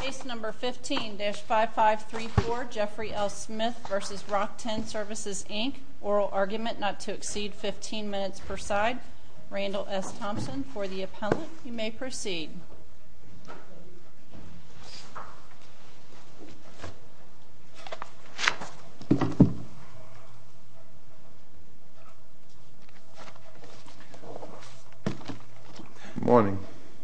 Case No. 15-5534, Jeffrey L. Smith v. Rock-Tenn Services Inc. Oral argument not to exceed 15 minutes per side. Randall S. Thompson for the appellant. You may proceed. Morning.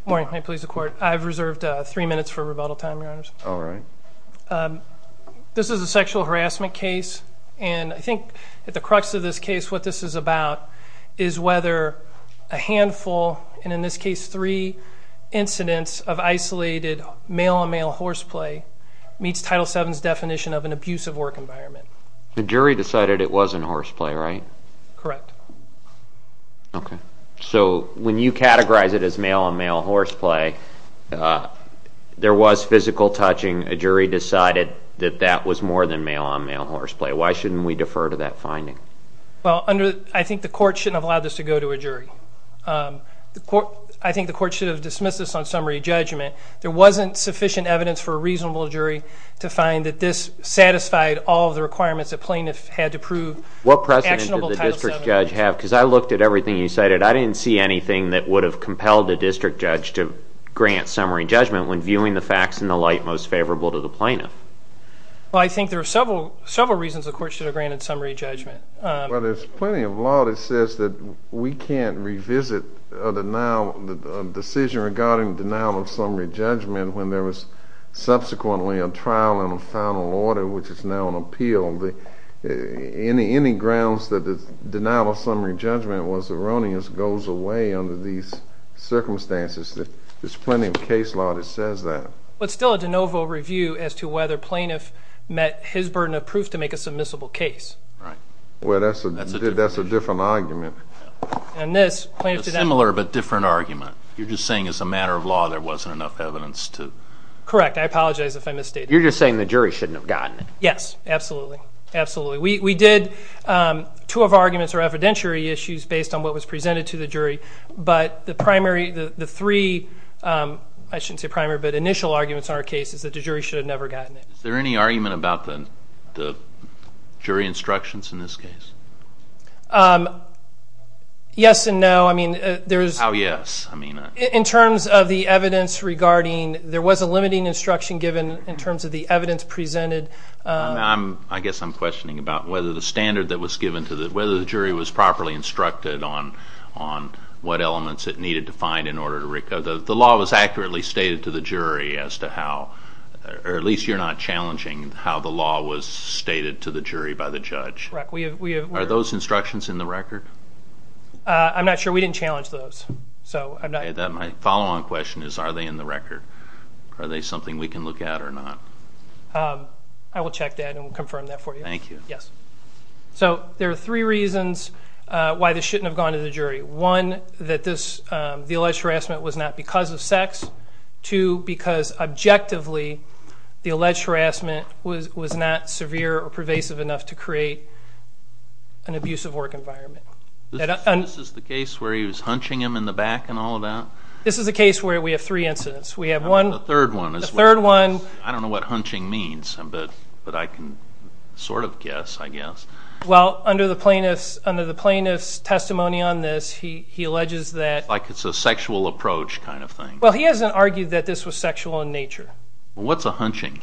Morning. May it please the court. I've reserved three minutes for rebuttal time, your honors. All right. This is a sexual harassment case, and I think at the crux of this case what this is about is whether a handful, and in this case three, incidents of isolated male-on-male horseplay meets Title VII's definition of an abusive work environment. The jury decided it wasn't horseplay, right? Correct. Okay. So when you categorize it as male-on-male horseplay, there was physical touching. A jury decided that that was more than male-on-male horseplay. Why shouldn't we defer to that finding? Well, I think the court shouldn't have allowed this to go to a jury. I think the court should have dismissed this on summary judgment. There wasn't sufficient evidence for a reasonable jury to find that this satisfied all of the requirements that plaintiff had to prove actionable Title VII. What precedent did the district judge have? Because I looked at everything you cited. I didn't see anything that would have compelled the district judge to grant summary judgment when viewing the facts in the light most favorable to the plaintiff. Well, I think there are several reasons the court should have granted summary judgment. Well, there's plenty of law that says that we can't revisit a decision regarding denial of summary judgment when there was subsequently a trial and a final order, which is now an appeal. Any grounds that the denial of summary judgment was erroneous goes away under these circumstances. There's plenty of case law that says that. But still a de novo review as to whether plaintiff met his burden of proof to make a submissible case. Right. Well, that's a different argument. And this, plaintiff did not. A similar but different argument. You're just saying as a matter of law there wasn't enough evidence to. Correct. I apologize if I misstated. You're just saying the jury shouldn't have gotten it. Yes. Absolutely. Absolutely. We did two of our arguments are evidentiary issues based on what was presented to the jury. But the three, I shouldn't say primary, but initial arguments in our case is that the jury should have never gotten it. Is there any argument about the jury instructions in this case? Yes and no. How yes? In terms of the evidence regarding, there was a limiting instruction given in terms of the evidence presented. I guess I'm questioning about whether the standard that was given to the, whether the jury was properly instructed on what elements it needed to find in order to, the law was accurately stated to the jury as to how, or at least you're not challenging how the law was stated to the jury by the judge. Correct. Are those instructions in the record? I'm not sure. We didn't challenge those. My follow-on question is, are they in the record? Are they something we can look at or not? I will check that and confirm that for you. Thank you. Yes. So there are three reasons why this shouldn't have gone to the jury. One, that the alleged harassment was not because of sex. Two, because objectively the alleged harassment was not severe or pervasive enough to create an abusive work environment. This is the case where he was hunching him in the back and all of that? This is the case where we have three incidents. We have one. The third one. The third one. I don't know what hunching means, but I can sort of guess, I guess. Well, under the plaintiff's testimony on this, he alleges that... Like it's a sexual approach kind of thing. Well, he hasn't argued that this was sexual in nature. What's a hunching?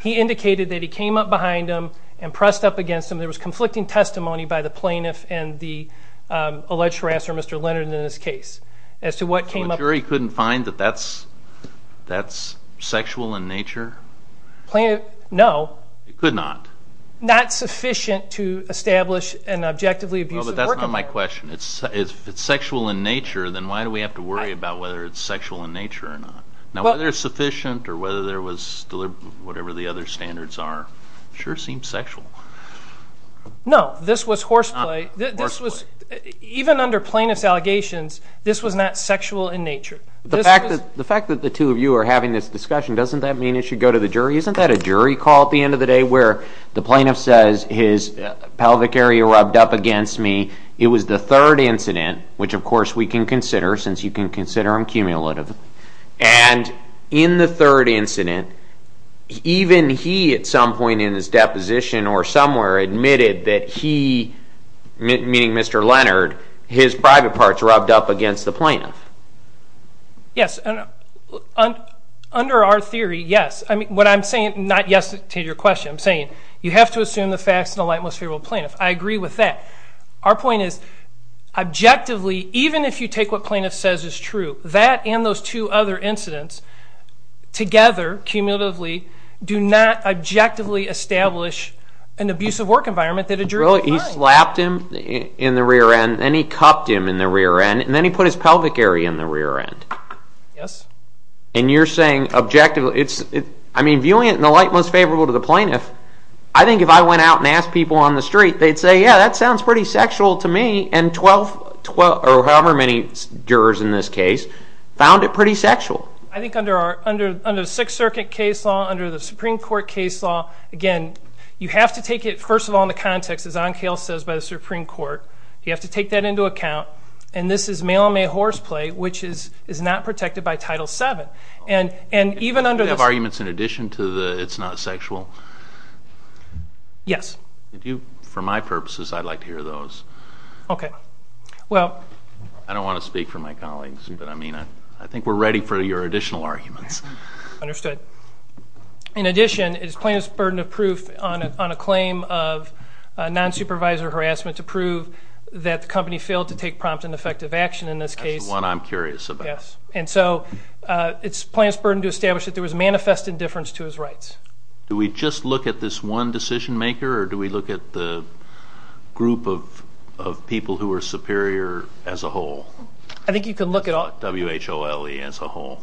He indicated that he came up behind him and pressed up against him. There was conflicting testimony by the plaintiff and the alleged harasser, Mr. Leonard, in this case as to what came up... So a jury couldn't find that that's sexual in nature? Plaintiff, no. It could not? Not sufficient to establish an objectively abusive work environment. Oh, but that's not my question. If it's sexual in nature, then why do we have to worry about whether it's sexual in nature or not? Now, whether it's sufficient or whether there was whatever the other standards are sure seems sexual. No, this was horseplay. Even under plaintiff's allegations, this was not sexual in nature. The fact that the two of you are having this discussion, doesn't that mean it should go to the jury? Isn't that a jury call at the end of the day where the plaintiff says his pelvic area rubbed up against me? It was the third incident, which of course we can consider since you can consider them cumulative. And in the third incident, even he at some point in his deposition or somewhere admitted that he, meaning Mr. Leonard, his private parts rubbed up against the plaintiff. Yes, under our theory, yes. I mean, what I'm saying, not yes to your question, I'm saying you have to assume the facts in a light, most favorable plaintiff. I agree with that. Our point is objectively, even if you take what plaintiff says is true, that and those two other incidents together, cumulatively, do not objectively establish an abusive work environment that a jury would find. He slapped him in the rear end, then he cupped him in the rear end, and then he put his pelvic area in the rear end. Yes. And you're saying objectively, I mean, viewing it in the light most favorable to the plaintiff, I think if I went out and asked people on the street, they'd say, yeah, that sounds pretty sexual to me, and however many jurors in this case found it pretty sexual. I think under the Sixth Circuit case law, under the Supreme Court case law, again, you have to take it, first of all, in the context, as Onkale says, by the Supreme Court. You have to take that into account. And this is male-on-male horseplay, which is not protected by Title VII. Do you have arguments in addition to the it's not sexual? Yes. For my purposes, I'd like to hear those. Okay. I don't want to speak for my colleagues, but, I mean, I think we're ready for your additional arguments. Understood. In addition, is plaintiff's burden of proof on a claim of non-supervisor harassment to prove that the company failed to take prompt and effective action in this case? That's the one I'm curious about. Yes. And so it's plaintiff's burden to establish that there was manifest indifference to his rights. Do we just look at this one decision-maker, or do we look at the group of people who are superior as a whole? I think you can look at all. WHOLE as a whole.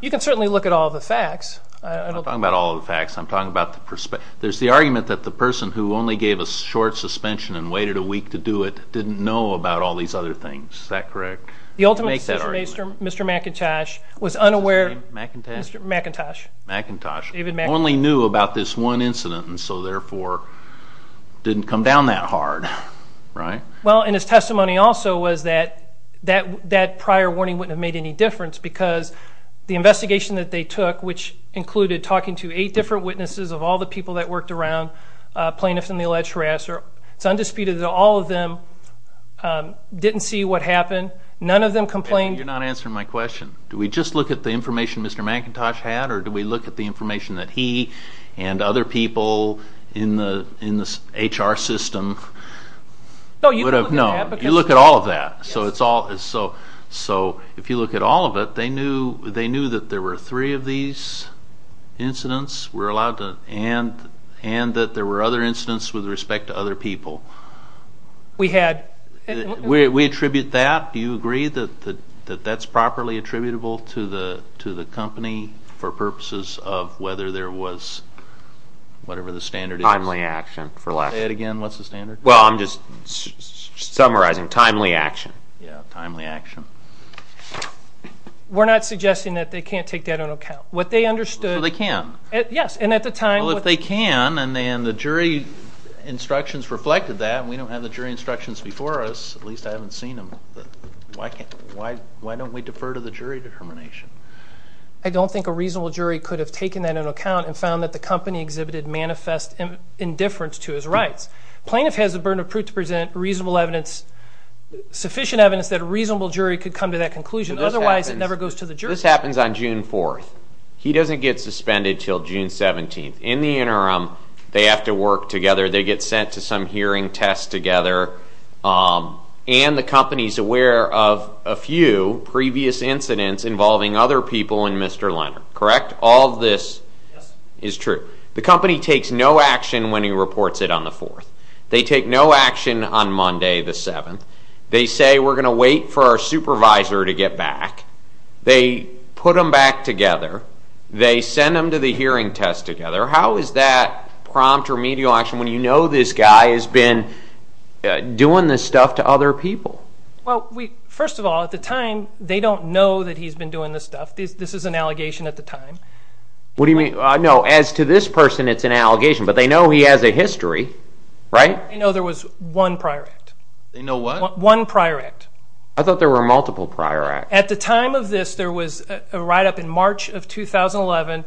You can certainly look at all the facts. I'm not talking about all the facts. I'm talking about the perspective. There's the argument that the person who only gave a short suspension and waited a week to do it didn't know about all these other things. Is that correct? The ultimate decision-maker, Mr. McIntosh, was unaware. McIntosh? McIntosh. McIntosh. David McIntosh. Only knew about this one incident, and so, therefore, didn't come down that hard. Right? Well, and his testimony also was that that prior warning wouldn't have made any difference because the investigation that they took, which included talking to eight different witnesses of all the people that worked around plaintiffs in the alleged harassment, it's undisputed that all of them didn't see what happened, none of them complained. You're not answering my question. Do we just look at the information Mr. McIntosh had, or do we look at the information that he and other people in the HR system would have known? No, you can look at that. You look at all of that. So if you look at all of it, they knew that there were three of these incidents, and that there were other incidents with respect to other people. We had. We attribute that. Do you agree that that's properly attributable to the company for purposes of whether there was whatever the standard is? Timely action. Say it again. What's the standard? Well, I'm just summarizing. Timely action. Yeah, timely action. We're not suggesting that they can't take that into account. What they understood. So they can. Yes, and at the time. Well, if they can, and the jury instructions reflected that. We don't have the jury instructions before us. At least I haven't seen them. Why don't we defer to the jury determination? I don't think a reasonable jury could have taken that into account and found that the company exhibited manifest indifference to his rights. Plaintiff has the burden of proof to present reasonable evidence, sufficient evidence, that a reasonable jury could come to that conclusion. Otherwise, it never goes to the jury. This happens on June 4th. He doesn't get suspended until June 17th. In the interim, they have to work together. They get sent to some hearing test together, and the company is aware of a few previous incidents involving other people and Mr. Leonard. Correct? All of this is true. The company takes no action when he reports it on the 4th. They take no action on Monday the 7th. They say, we're going to wait for our supervisor to get back. They put them back together. They send them to the hearing test together. How is that prompt or medial action when you know this guy has been doing this stuff to other people? Well, first of all, at the time, they don't know that he's been doing this stuff. This is an allegation at the time. What do you mean? No, as to this person, it's an allegation. But they know he has a history, right? They know there was one prior act. They know what? One prior act. I thought there were multiple prior acts. At the time of this, there was a write-up in March of 2011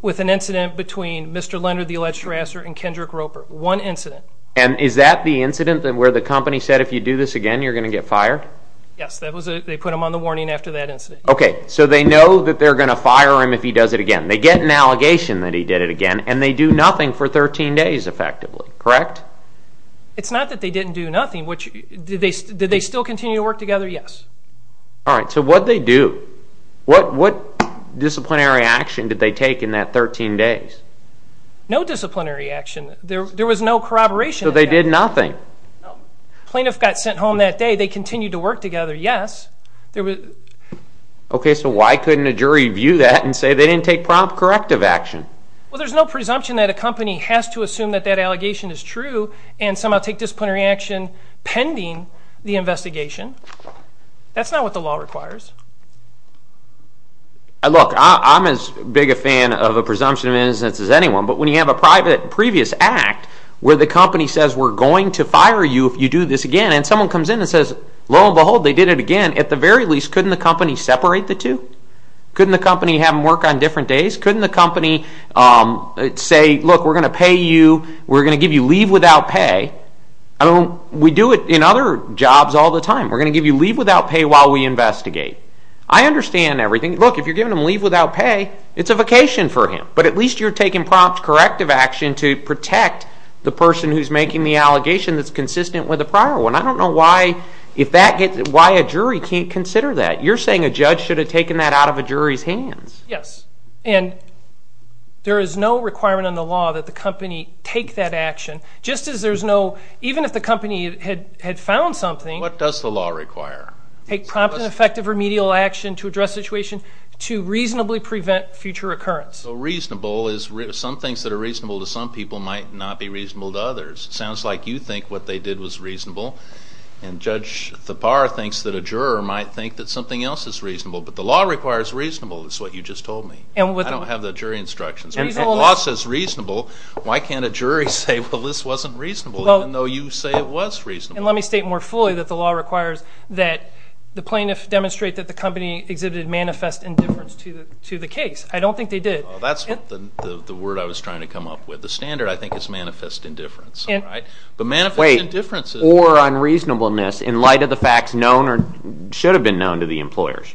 with an incident between Mr. Leonard, the alleged harasser, and Kendrick Roper, one incident. And is that the incident where the company said, if you do this again, you're going to get fired? Yes, they put him on the warning after that incident. Okay, so they know that they're going to fire him if he does it again. They get an allegation that he did it again, and they do nothing for 13 days effectively, correct? It's not that they didn't do nothing. Did they still continue to work together? Yes. All right, so what did they do? What disciplinary action did they take in that 13 days? No disciplinary action. There was no corroboration. So they did nothing? No. Plaintiff got sent home that day. They continued to work together, yes. Okay, so why couldn't a jury view that and say they didn't take prompt corrective action? Well, there's no presumption that a company has to assume that that allegation is true and somehow take disciplinary action pending the investigation. That's not what the law requires. Look, I'm as big a fan of a presumption of innocence as anyone, but when you have a previous act where the company says, we're going to fire you if you do this again, and someone comes in and says, lo and behold, they did it again, at the very least, couldn't the company separate the two? Couldn't the company have them work on different days? Couldn't the company say, look, we're going to pay you. We're going to give you leave without pay. We do it in other jobs all the time. We're going to give you leave without pay while we investigate. I understand everything. Look, if you're giving them leave without pay, it's a vacation for him, but at least you're taking prompt corrective action to protect the person who's making the allegation that's consistent with the prior one. I don't know why a jury can't consider that. You're saying a judge should have taken that out of a jury's hands. Yes, and there is no requirement in the law that the company take that action. Just as there's no, even if the company had found something. What does the law require? Take prompt and effective remedial action to address the situation, to reasonably prevent future occurrence. So reasonable is, some things that are reasonable to some people might not be reasonable to others. It sounds like you think what they did was reasonable, and Judge Thapar thinks that a juror might think that something else is reasonable, but the law requires reasonable is what you just told me. I don't have the jury instructions. If the law says reasonable, why can't a jury say, well, this wasn't reasonable, even though you say it was reasonable. And let me state more fully that the law requires that the plaintiff demonstrate that the company exhibited manifest indifference to the case. I don't think they did. That's the word I was trying to come up with. The standard, I think, is manifest indifference. But manifest indifference is. Or unreasonableness in light of the facts known or should have been known to the employers.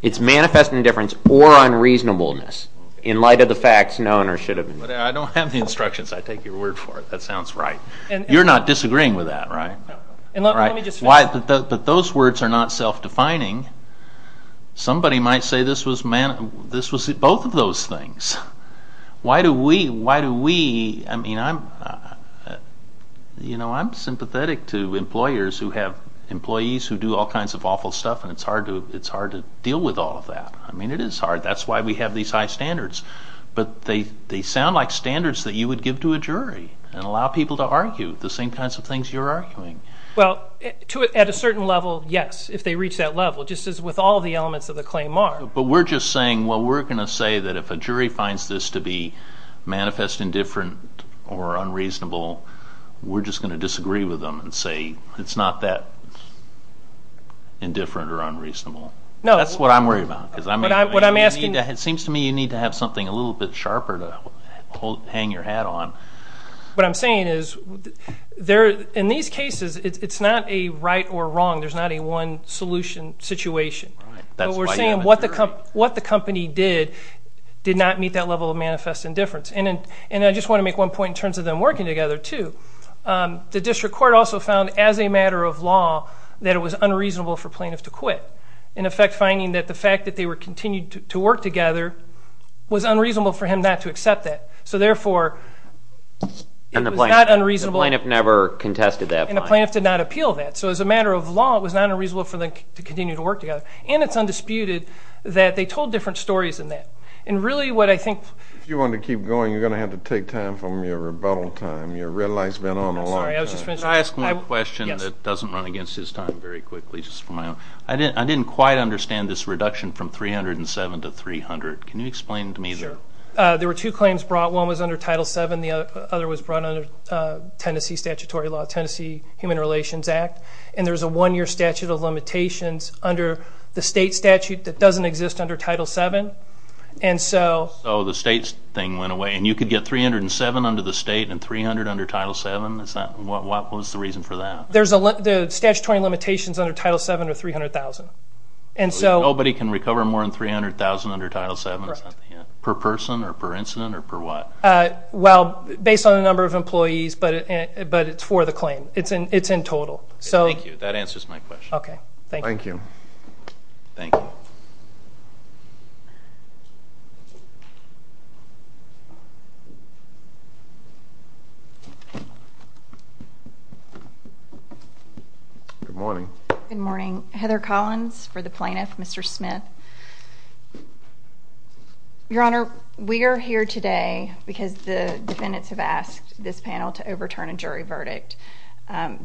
It's manifest indifference or unreasonableness in light of the facts known or should have been known. I don't have the instructions. I take your word for it. That sounds right. You're not disagreeing with that, right? But those words are not self-defining. Somebody might say this was both of those things. Why do we, I mean, I'm sympathetic to employers who have employees who do all kinds of awful stuff, and it's hard to deal with all of that. I mean, it is hard. That's why we have these high standards. But they sound like standards that you would give to a jury and allow people to argue the same kinds of things you're arguing. Well, at a certain level, yes, if they reach that level, just as with all the elements of the claim are. But we're just saying, well, we're going to say that if a jury finds this to be manifest indifferent or unreasonable, we're just going to disagree with them and say it's not that indifferent or unreasonable. That's what I'm worried about. It seems to me you need to have something a little bit sharper to hang your hat on. What I'm saying is, in these cases, it's not a right or wrong. There's not a one solution situation. But we're saying what the company did did not meet that level of manifest indifference. And I just want to make one point in terms of them working together, too. The district court also found, as a matter of law, that it was unreasonable for plaintiff to quit, in effect finding that the fact that they were continuing to work together was unreasonable for him not to accept that. So, therefore, it was not unreasonable. And the plaintiff never contested that. And the plaintiff did not appeal that. So, as a matter of law, it was not unreasonable for them to continue to work together. And it's undisputed that they told different stories than that. And really what I think- If you want to keep going, you're going to have to take time from your rebuttal time. Your red light's been on a long time. Can I ask one question that doesn't run against his time very quickly, just for my own- I didn't quite understand this reduction from 307 to 300. Can you explain to me the- Sure. There were two claims brought. One was under Title VII. The other was brought under Tennessee statutory law, Tennessee Human Relations Act. And there's a one-year statute of limitations under the state statute that doesn't exist under Title VII. And so- So the state thing went away. And you could get 307 under the state and 300 under Title VII? What was the reason for that? There's a- The statutory limitations under Title VII are 300,000. And so- Nobody can recover more than 300,000 under Title VII? Correct. Per person or per incident or per what? Well, based on the number of employees, but it's for the claim. It's in total. Thank you. That answers my question. Okay. Thank you. Thank you. Good morning. Good morning. Heather Collins for the plaintiff, Mr. Smith. Your Honor, we are here today because the defendants have asked this panel to overturn a jury verdict.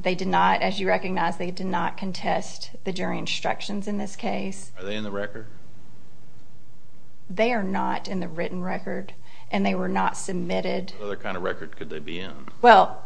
They did not, as you recognize, they did not contest the jury instructions in this case. Are they in the record? They are not in the written record. And they were not submitted- What other kind of record could they be in? Well,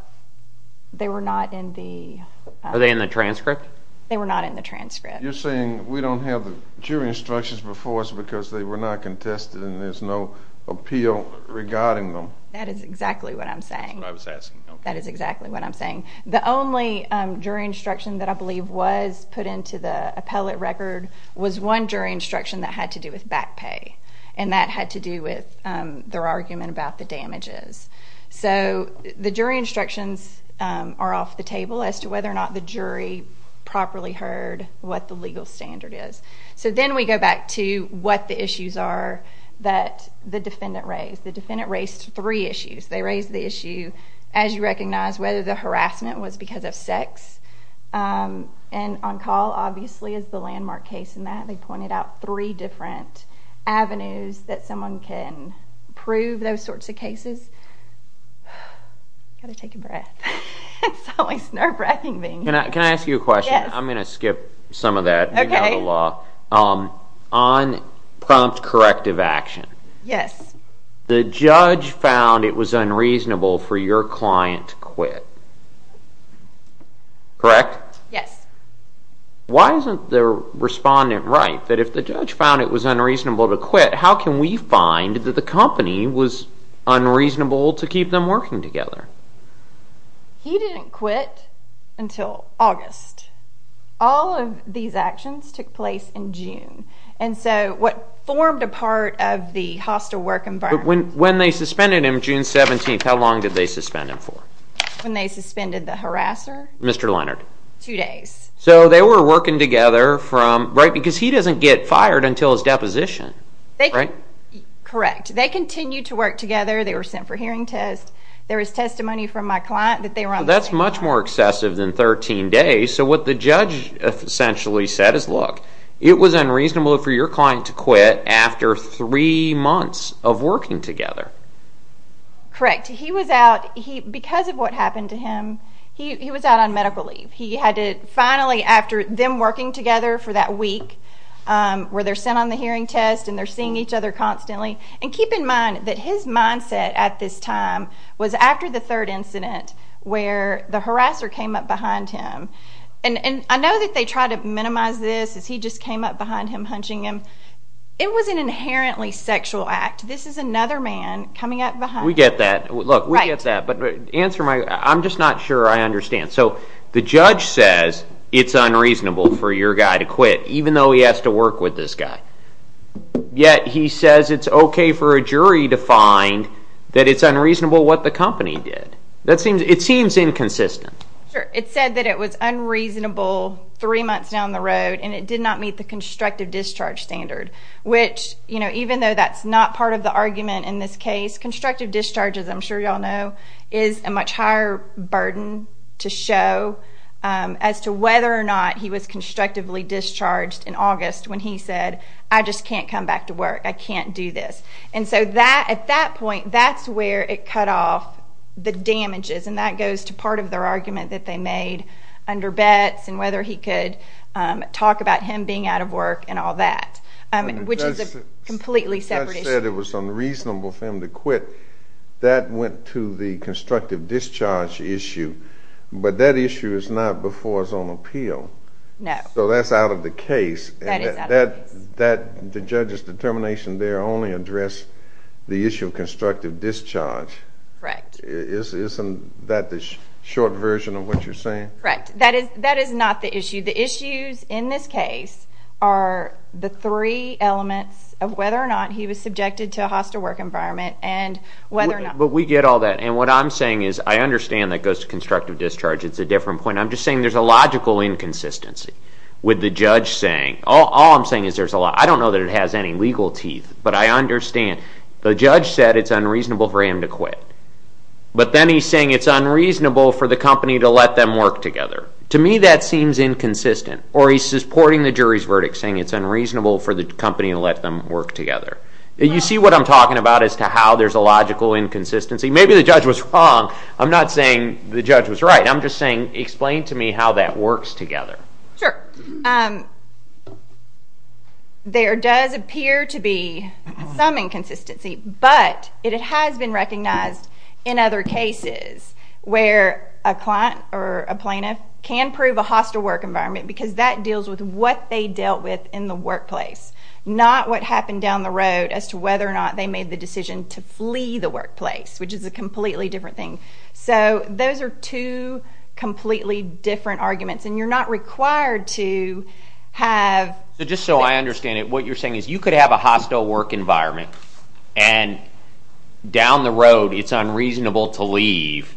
they were not in the- Are they in the transcript? They were not in the transcript. You're saying we don't have the jury instructions before us because they were not contested and there's no appeal regarding them? That is exactly what I'm saying. That's what I was asking. That is exactly what I'm saying. The only jury instruction that I believe was put into the appellate record was one jury instruction that had to do with back pay. And that had to do with their argument about the damages. So the jury instructions are off the table as to whether or not the jury properly heard what the legal standard is. So then we go back to what the issues are that the defendant raised. The defendant raised three issues. They raised the issue, as you recognize, whether the harassment was because of sex. And on call, obviously, is the landmark case in that. They pointed out three different avenues that someone can prove those sorts of cases. I've got to take a breath. It's always nerve-wracking being here. Can I ask you a question? Yes. I'm going to skip some of that. Okay. On prompt corrective action. Yes. The judge found it was unreasonable for your client to quit. Correct? Yes. Why isn't the respondent right that if the judge found it was unreasonable to quit, how can we find that the company was unreasonable to keep them working together? He didn't quit until August. All of these actions took place in June. And so what formed a part of the hostile work environment. But when they suspended him June 17th, how long did they suspend him for? When they suspended the harasser? Mr. Leonard. Two days. So they were working together because he doesn't get fired until his deposition. Correct. They continued to work together. They were sent for hearing tests. There was testimony from my client that they were on the way home. That's much more excessive than 13 days. So what the judge essentially said is, look, it was unreasonable for your client to quit after three months of working together. Correct. Because of what happened to him, he was out on medical leave. Finally, after them working together for that week where they're sent on the hearing test and they're seeing each other constantly. And keep in mind that his mindset at this time was after the third incident where the harasser came up behind him. And I know that they tried to minimize this as he just came up behind him, hunching him. It was an inherently sexual act. This is another man coming up behind him. We get that. Look, we get that. But answer my question. I'm just not sure I understand. So the judge says it's unreasonable for your guy to quit even though he has to work with this guy. Yet he says it's okay for a jury to find that it's unreasonable what the company did. It seems inconsistent. Sure. It said that it was unreasonable three months down the road and it did not meet the constructive discharge standard, which even though that's not part of the argument in this case, constructive discharge, as I'm sure you all know, is a much higher burden to show as to whether or not he was constructively discharged in August when he said, I just can't come back to work. I can't do this. And so at that point, that's where it cut off the damages, and that goes to part of their argument that they made under Betz and whether he could talk about him being out of work and all that, which is a completely separate issue. He said it was unreasonable for him to quit. That went to the constructive discharge issue. But that issue is not before us on appeal. No. So that's out of the case. That is out of the case. The judge's determination there only addressed the issue of constructive discharge. Correct. Isn't that the short version of what you're saying? Correct. That is not the issue. The issues in this case are the three elements of whether or not he was subjected to a hostile work environment and whether or not. But we get all that. And what I'm saying is I understand that goes to constructive discharge. It's a different point. I'm just saying there's a logical inconsistency with the judge saying. All I'm saying is there's a lot. I don't know that it has any legal teeth, but I understand. The judge said it's unreasonable for him to quit. But then he's saying it's unreasonable for the company to let them work together. To me that seems inconsistent. Or he's supporting the jury's verdict saying it's unreasonable for the company to let them work together. You see what I'm talking about as to how there's a logical inconsistency? Maybe the judge was wrong. I'm not saying the judge was right. I'm just saying explain to me how that works together. Sure. There does appear to be some inconsistency, but it has been recognized in other cases where a client or a plaintiff can prove a hostile work environment because that deals with what they dealt with in the workplace, not what happened down the road as to whether or not they made the decision to flee the workplace, which is a completely different thing. So those are two completely different arguments. And you're not required to have ---- Just so I understand it, what you're saying is you could have a hostile work environment, and down the road it's unreasonable to leave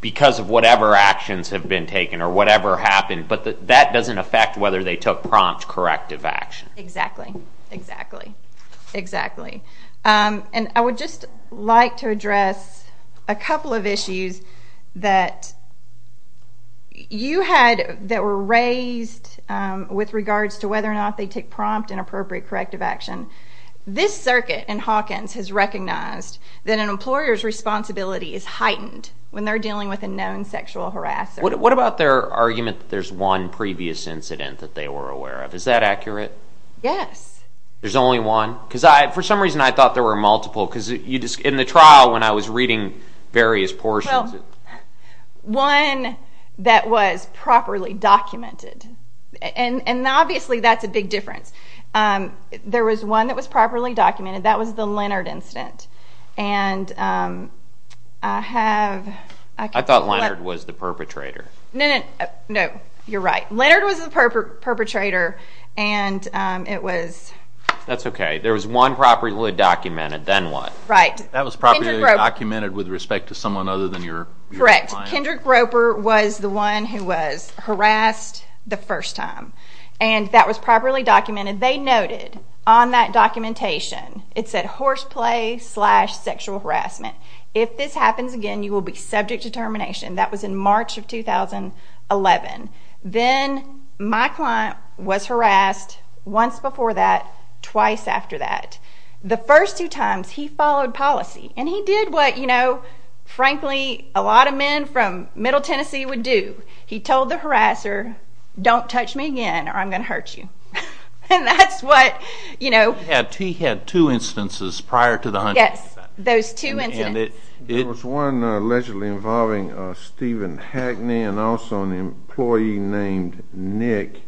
because of whatever actions have been taken or whatever happened, but that doesn't affect whether they took prompt corrective action. Exactly, exactly, exactly. And I would just like to address a couple of issues that you had that were raised with regards to whether or not they took prompt and appropriate corrective action. This circuit in Hawkins has recognized that an employer's responsibility is heightened when they're dealing with a known sexual harasser. What about their argument that there's one previous incident that they were aware of? Is that accurate? Yes. There's only one? Because for some reason I thought there were multiple. Because in the trial when I was reading various portions ---- Well, one that was properly documented. And obviously that's a big difference. There was one that was properly documented. That was the Leonard incident. And I have ---- I thought Leonard was the perpetrator. No, no, no, you're right. Leonard was the perpetrator, and it was ---- That's okay. There was one properly documented, then what? Right. That was properly documented with respect to someone other than your client? Correct. Kendrick Groper was the one who was harassed the first time. And that was properly documented. They noted on that documentation, it said horseplay slash sexual harassment. If this happens again, you will be subject to termination. That was in March of 2011. Then my client was harassed once before that, twice after that. The first two times he followed policy. And he did what, you know, frankly a lot of men from middle Tennessee would do. He told the harasser, don't touch me again or I'm going to hurt you. And that's what, you know ---- He had two instances prior to the hunting. Yes, those two incidents. There was one allegedly involving Stephen Hackney and also an employee named Nick.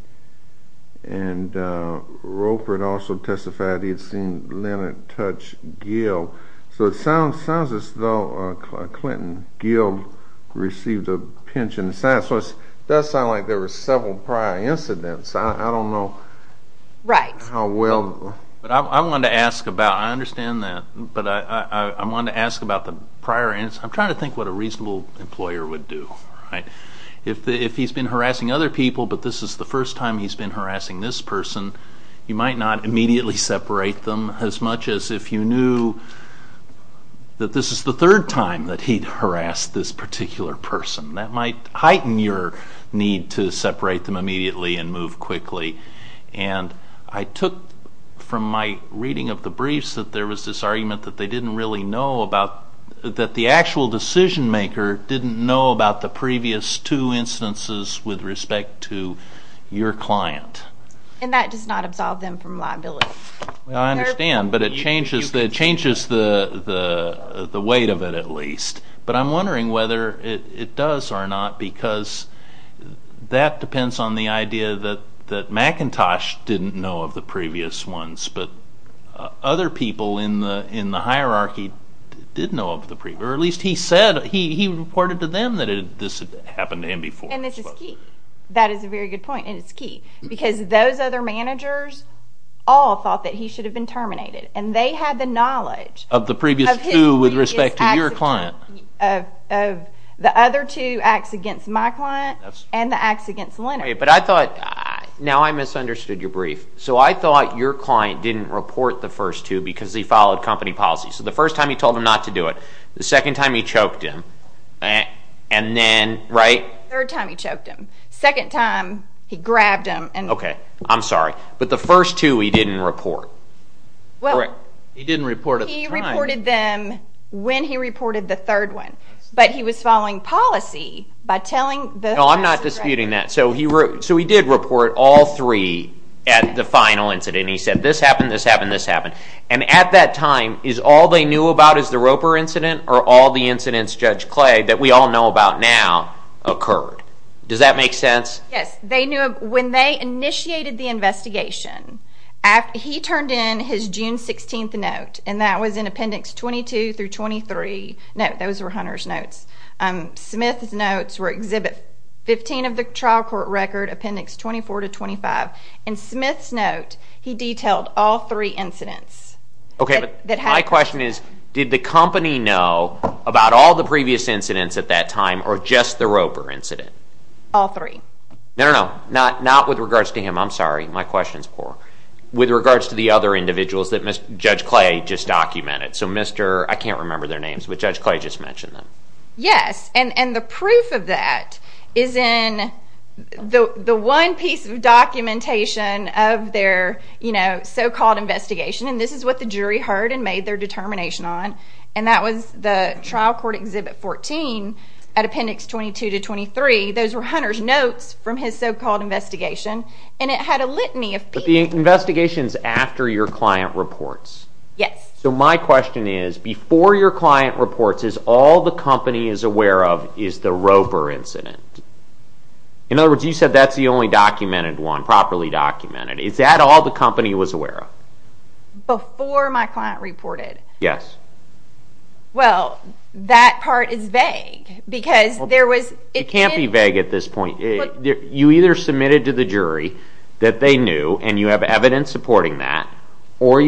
And Groper had also testified he had seen Leonard touch Gil. So it sounds as though Clinton Gil received a pinch in the side. So it does sound like there were several prior incidents. Right. I want to ask about, I understand that, but I want to ask about the prior incidents. I'm trying to think what a reasonable employer would do. If he's been harassing other people but this is the first time he's been harassing this person, you might not immediately separate them as much as if you knew that this is the third time that he'd harassed this particular person. That might heighten your need to separate them immediately and move quickly. And I took from my reading of the briefs that there was this argument that they didn't really know about, that the actual decision maker didn't know about the previous two instances with respect to your client. And that does not absolve them from liability. I understand, but it changes the weight of it at least. But I'm wondering whether it does or not because that depends on the idea that McIntosh didn't know of the previous ones but other people in the hierarchy did know of the previous ones. Or at least he said, he reported to them that this had happened to him before. And this is key. That is a very good point and it's key. Because those other managers all thought that he should have been terminated. Of the previous two with respect to your client. Of the other two acts against my client and the acts against Leonard. But I thought, now I misunderstood your brief. So I thought your client didn't report the first two because he followed company policy. So the first time he told them not to do it, the second time he choked him, and then, right? Third time he choked him. Second time he grabbed him. Okay, I'm sorry. But the first two he didn't report. He didn't report at the time. He reported them when he reported the third one. But he was following policy by telling the- No, I'm not disputing that. So he did report all three at the final incident. He said, this happened, this happened, this happened. And at that time, is all they knew about is the Roper incident or all the incidents, Judge Clay, that we all know about now occurred? Does that make sense? Yes. When they initiated the investigation, he turned in his June 16th note, and that was in Appendix 22 through 23. No, those were Hunter's notes. Smith's notes were Exhibit 15 of the trial court record, Appendix 24 to 25. In Smith's note, he detailed all three incidents. Okay, but my question is, did the company know about all the previous incidents at that time or just the Roper incident? All three. No, no, no, not with regards to him. I'm sorry, my question is poor. With regards to the other individuals that Judge Clay just documented. So Mr. I can't remember their names, but Judge Clay just mentioned them. Yes, and the proof of that is in the one piece of documentation of their so-called investigation. And this is what the jury heard and made their determination on. And that was the trial court Exhibit 14 at Appendix 22 to 23. Those were Hunter's notes from his so-called investigation, and it had a litany of people. But the investigation is after your client reports? Yes. So my question is, before your client reports, is all the company is aware of is the Roper incident? In other words, you said that's the only documented one, properly documented. Is that all the company was aware of? Before my client reported? Yes. Well, that part is vague, because there was... It can't be vague at this point. You either submitted to the jury that they knew, and you have evidence supporting that, or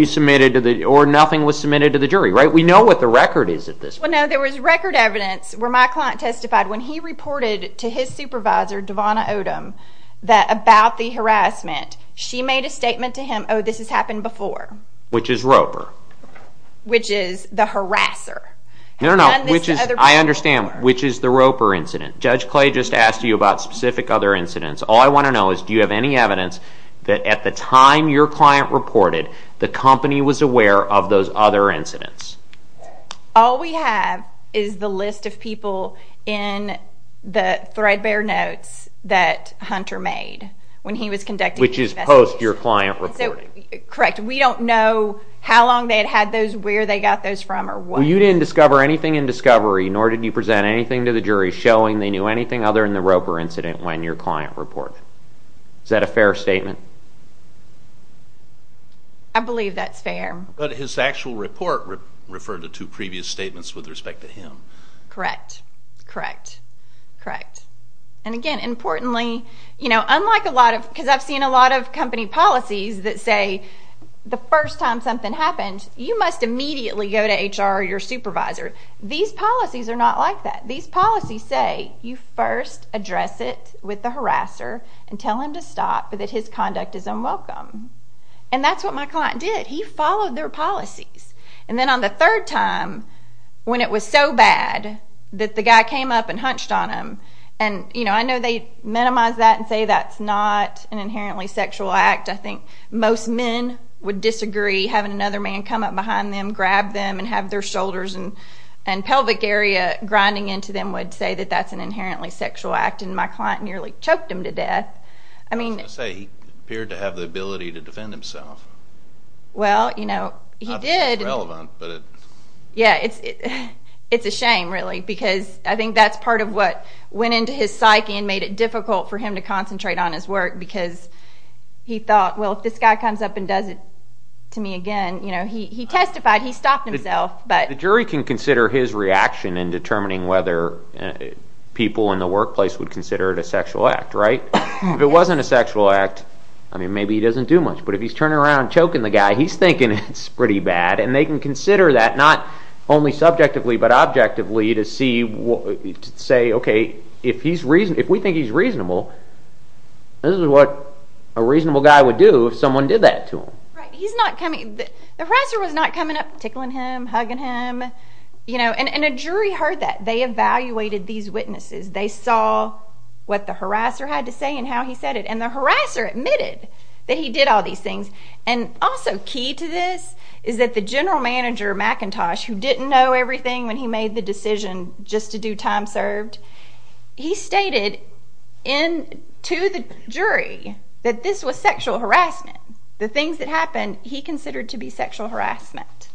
nothing was submitted to the jury, right? We know what the record is at this point. Well, no, there was record evidence where my client testified. When he reported to his supervisor, Davonna Odom, about the harassment, she made a statement to him, oh, this has happened before. Which is Roper. Which is the harasser. No, no, no. I understand. Which is the Roper incident. Judge Clay just asked you about specific other incidents. All I want to know is, do you have any evidence that at the time your client reported, the company was aware of those other incidents? All we have is the list of people in the threadbare notes that Hunter made when he was conducting the investigation. Which is post your client reporting. Correct. We don't know how long they had had those, where they got those from, or what. You didn't discover anything in discovery, nor did you present anything to the jury showing they knew anything other than the Roper incident when your client reported. Is that a fair statement? I believe that's fair. But his actual report referred to two previous statements with respect to him. Correct. Correct. Correct. Again, importantly, unlike a lot of, because I've seen a lot of company policies that say the first time something happens, you must immediately go to HR or your supervisor. These policies are not like that. These policies say you first address it with the harasser and tell him to stop so that his conduct is unwelcome. That's what my client did. He followed their policies. Then on the third time, when it was so bad that the guy came up and hunched on him, and I know they minimize that and say that's not an inherently sexual act. I think most men would disagree having another man come up behind them, grab them, and have their shoulders and pelvic area grinding into them would say that that's an inherently sexual act. My client nearly choked him to death. I was going to say, he appeared to have the ability to defend himself. Well, you know, he did. Not that it's relevant. Yeah, it's a shame, really, because I think that's part of what went into his psyche and made it difficult for him to concentrate on his work because he thought, well, if this guy comes up and does it to me again, you know, he testified he stopped himself. The jury can consider his reaction in determining whether people in the workplace would consider it a sexual act, right? If it wasn't a sexual act, I mean, maybe he doesn't do much, but if he's turning around and choking the guy, he's thinking it's pretty bad, and they can consider that not only subjectively but objectively to say, okay, if we think he's reasonable, this is what a reasonable guy would do if someone did that to him. Right. The harasser was not coming up tickling him, hugging him, you know, and a jury heard that. They evaluated these witnesses. They saw what the harasser had to say and how he said it, and the harasser admitted that he did all these things. And also key to this is that the general manager, McIntosh, who didn't know everything when he made the decision just to do time served, he stated to the jury that this was sexual harassment. The things that happened he considered to be sexual harassment.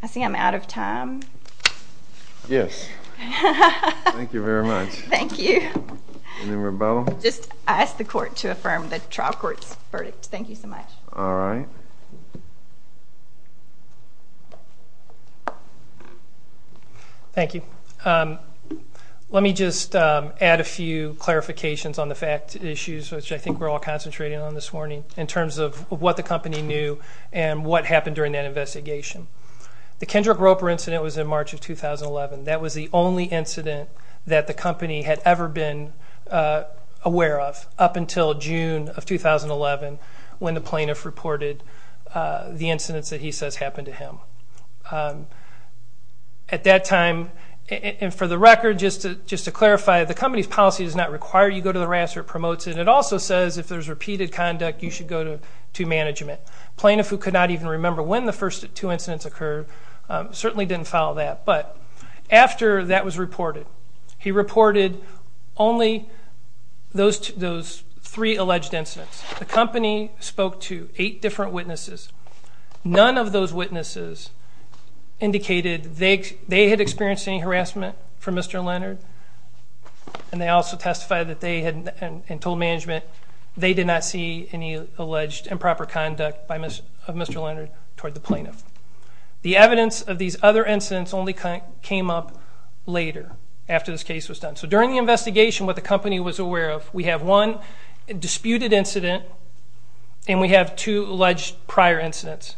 I see I'm out of time. Yes. Thank you very much. Thank you. Any rebuttal? Just ask the court to affirm the trial court's verdict. Thank you so much. All right. Thank you. Let me just add a few clarifications on the fact issues, which I think we're all concentrating on this morning, in terms of what the company knew and what happened during that investigation. The Kendrick Roper incident was in March of 2011. That was the only incident that the company had ever been aware of, up until June of 2011, when the plaintiff reported the incidents that he says happened to him. At that time, and for the record, just to clarify, the company's policy does not require you go to the harasser. It promotes it. It also says if there's repeated conduct, you should go to management. Plaintiff, who could not even remember when the first two incidents occurred, certainly didn't follow that. But after that was reported, he reported only those three alleged incidents. The company spoke to eight different witnesses. None of those witnesses indicated they had experienced any harassment from Mr. Leonard, and they also testified that they had told management they did not see any alleged improper conduct of Mr. Leonard toward the plaintiff. The evidence of these other incidents only came up later, after this case was done. During the investigation, what the company was aware of, we have one disputed incident and we have two alleged prior incidents.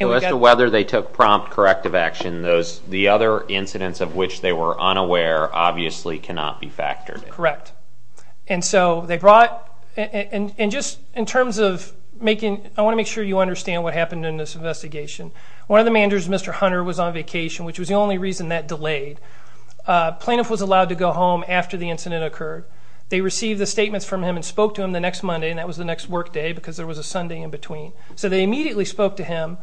As to whether they took prompt corrective action, the other incidents of which they were unaware obviously cannot be factored in. Correct. And so they brought, and just in terms of making, I want to make sure you understand what happened in this investigation. One of the managers, Mr. Hunter, was on vacation, which was the only reason that delayed. Plaintiff was allowed to go home after the incident occurred. They received the statements from him and spoke to him the next Monday, and that was the next work day because there was a Sunday in between. So they immediately spoke to him,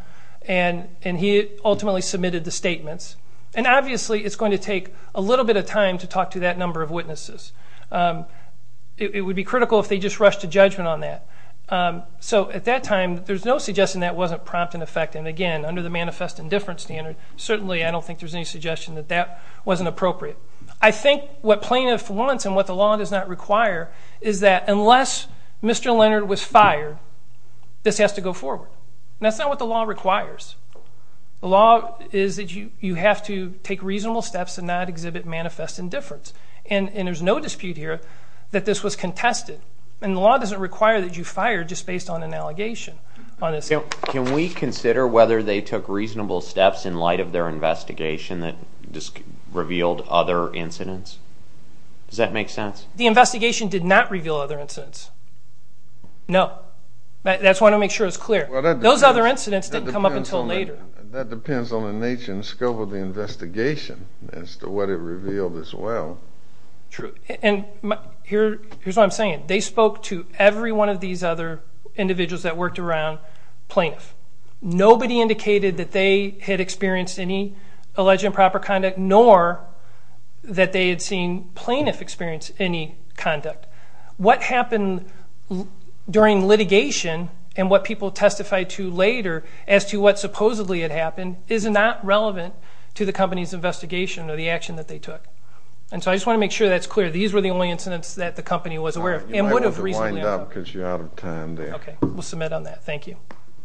and he ultimately submitted the statements. And obviously it's going to take a little bit of time to talk to that number of witnesses. It would be critical if they just rushed to judgment on that. So at that time, there's no suggestion that wasn't prompt in effect, and again, under the manifest indifference standard, certainly I don't think there's any suggestion that that wasn't appropriate. I think what plaintiff wants and what the law does not require is that unless Mr. Leonard was fired, this has to go forward. And that's not what the law requires. The law is that you have to take reasonable steps and not exhibit manifest indifference. And there's no dispute here that this was contested. And the law doesn't require that you fire just based on an allegation. Can we consider whether they took reasonable steps in light of their investigation that revealed other incidents? Does that make sense? The investigation did not reveal other incidents. No. That's why I want to make sure it's clear. Those other incidents didn't come up until later. That depends on the nature and scope of the investigation as to what it revealed as well. And here's what I'm saying. They spoke to every one of these other individuals that worked around plaintiff. Nobody indicated that they had experienced any alleged improper conduct nor that they had seen plaintiff experience any conduct. What happened during litigation and what people testified to later as to what supposedly had happened is not relevant to the company's investigation or the action that they took. And so I just want to make sure that's clear. These were the only incidents that the company was aware of and would have recently uncovered. You might want to wind up because you're out of time there. Okay. We'll submit on that. Thank you.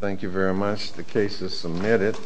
Thank you very much. The case is submitted.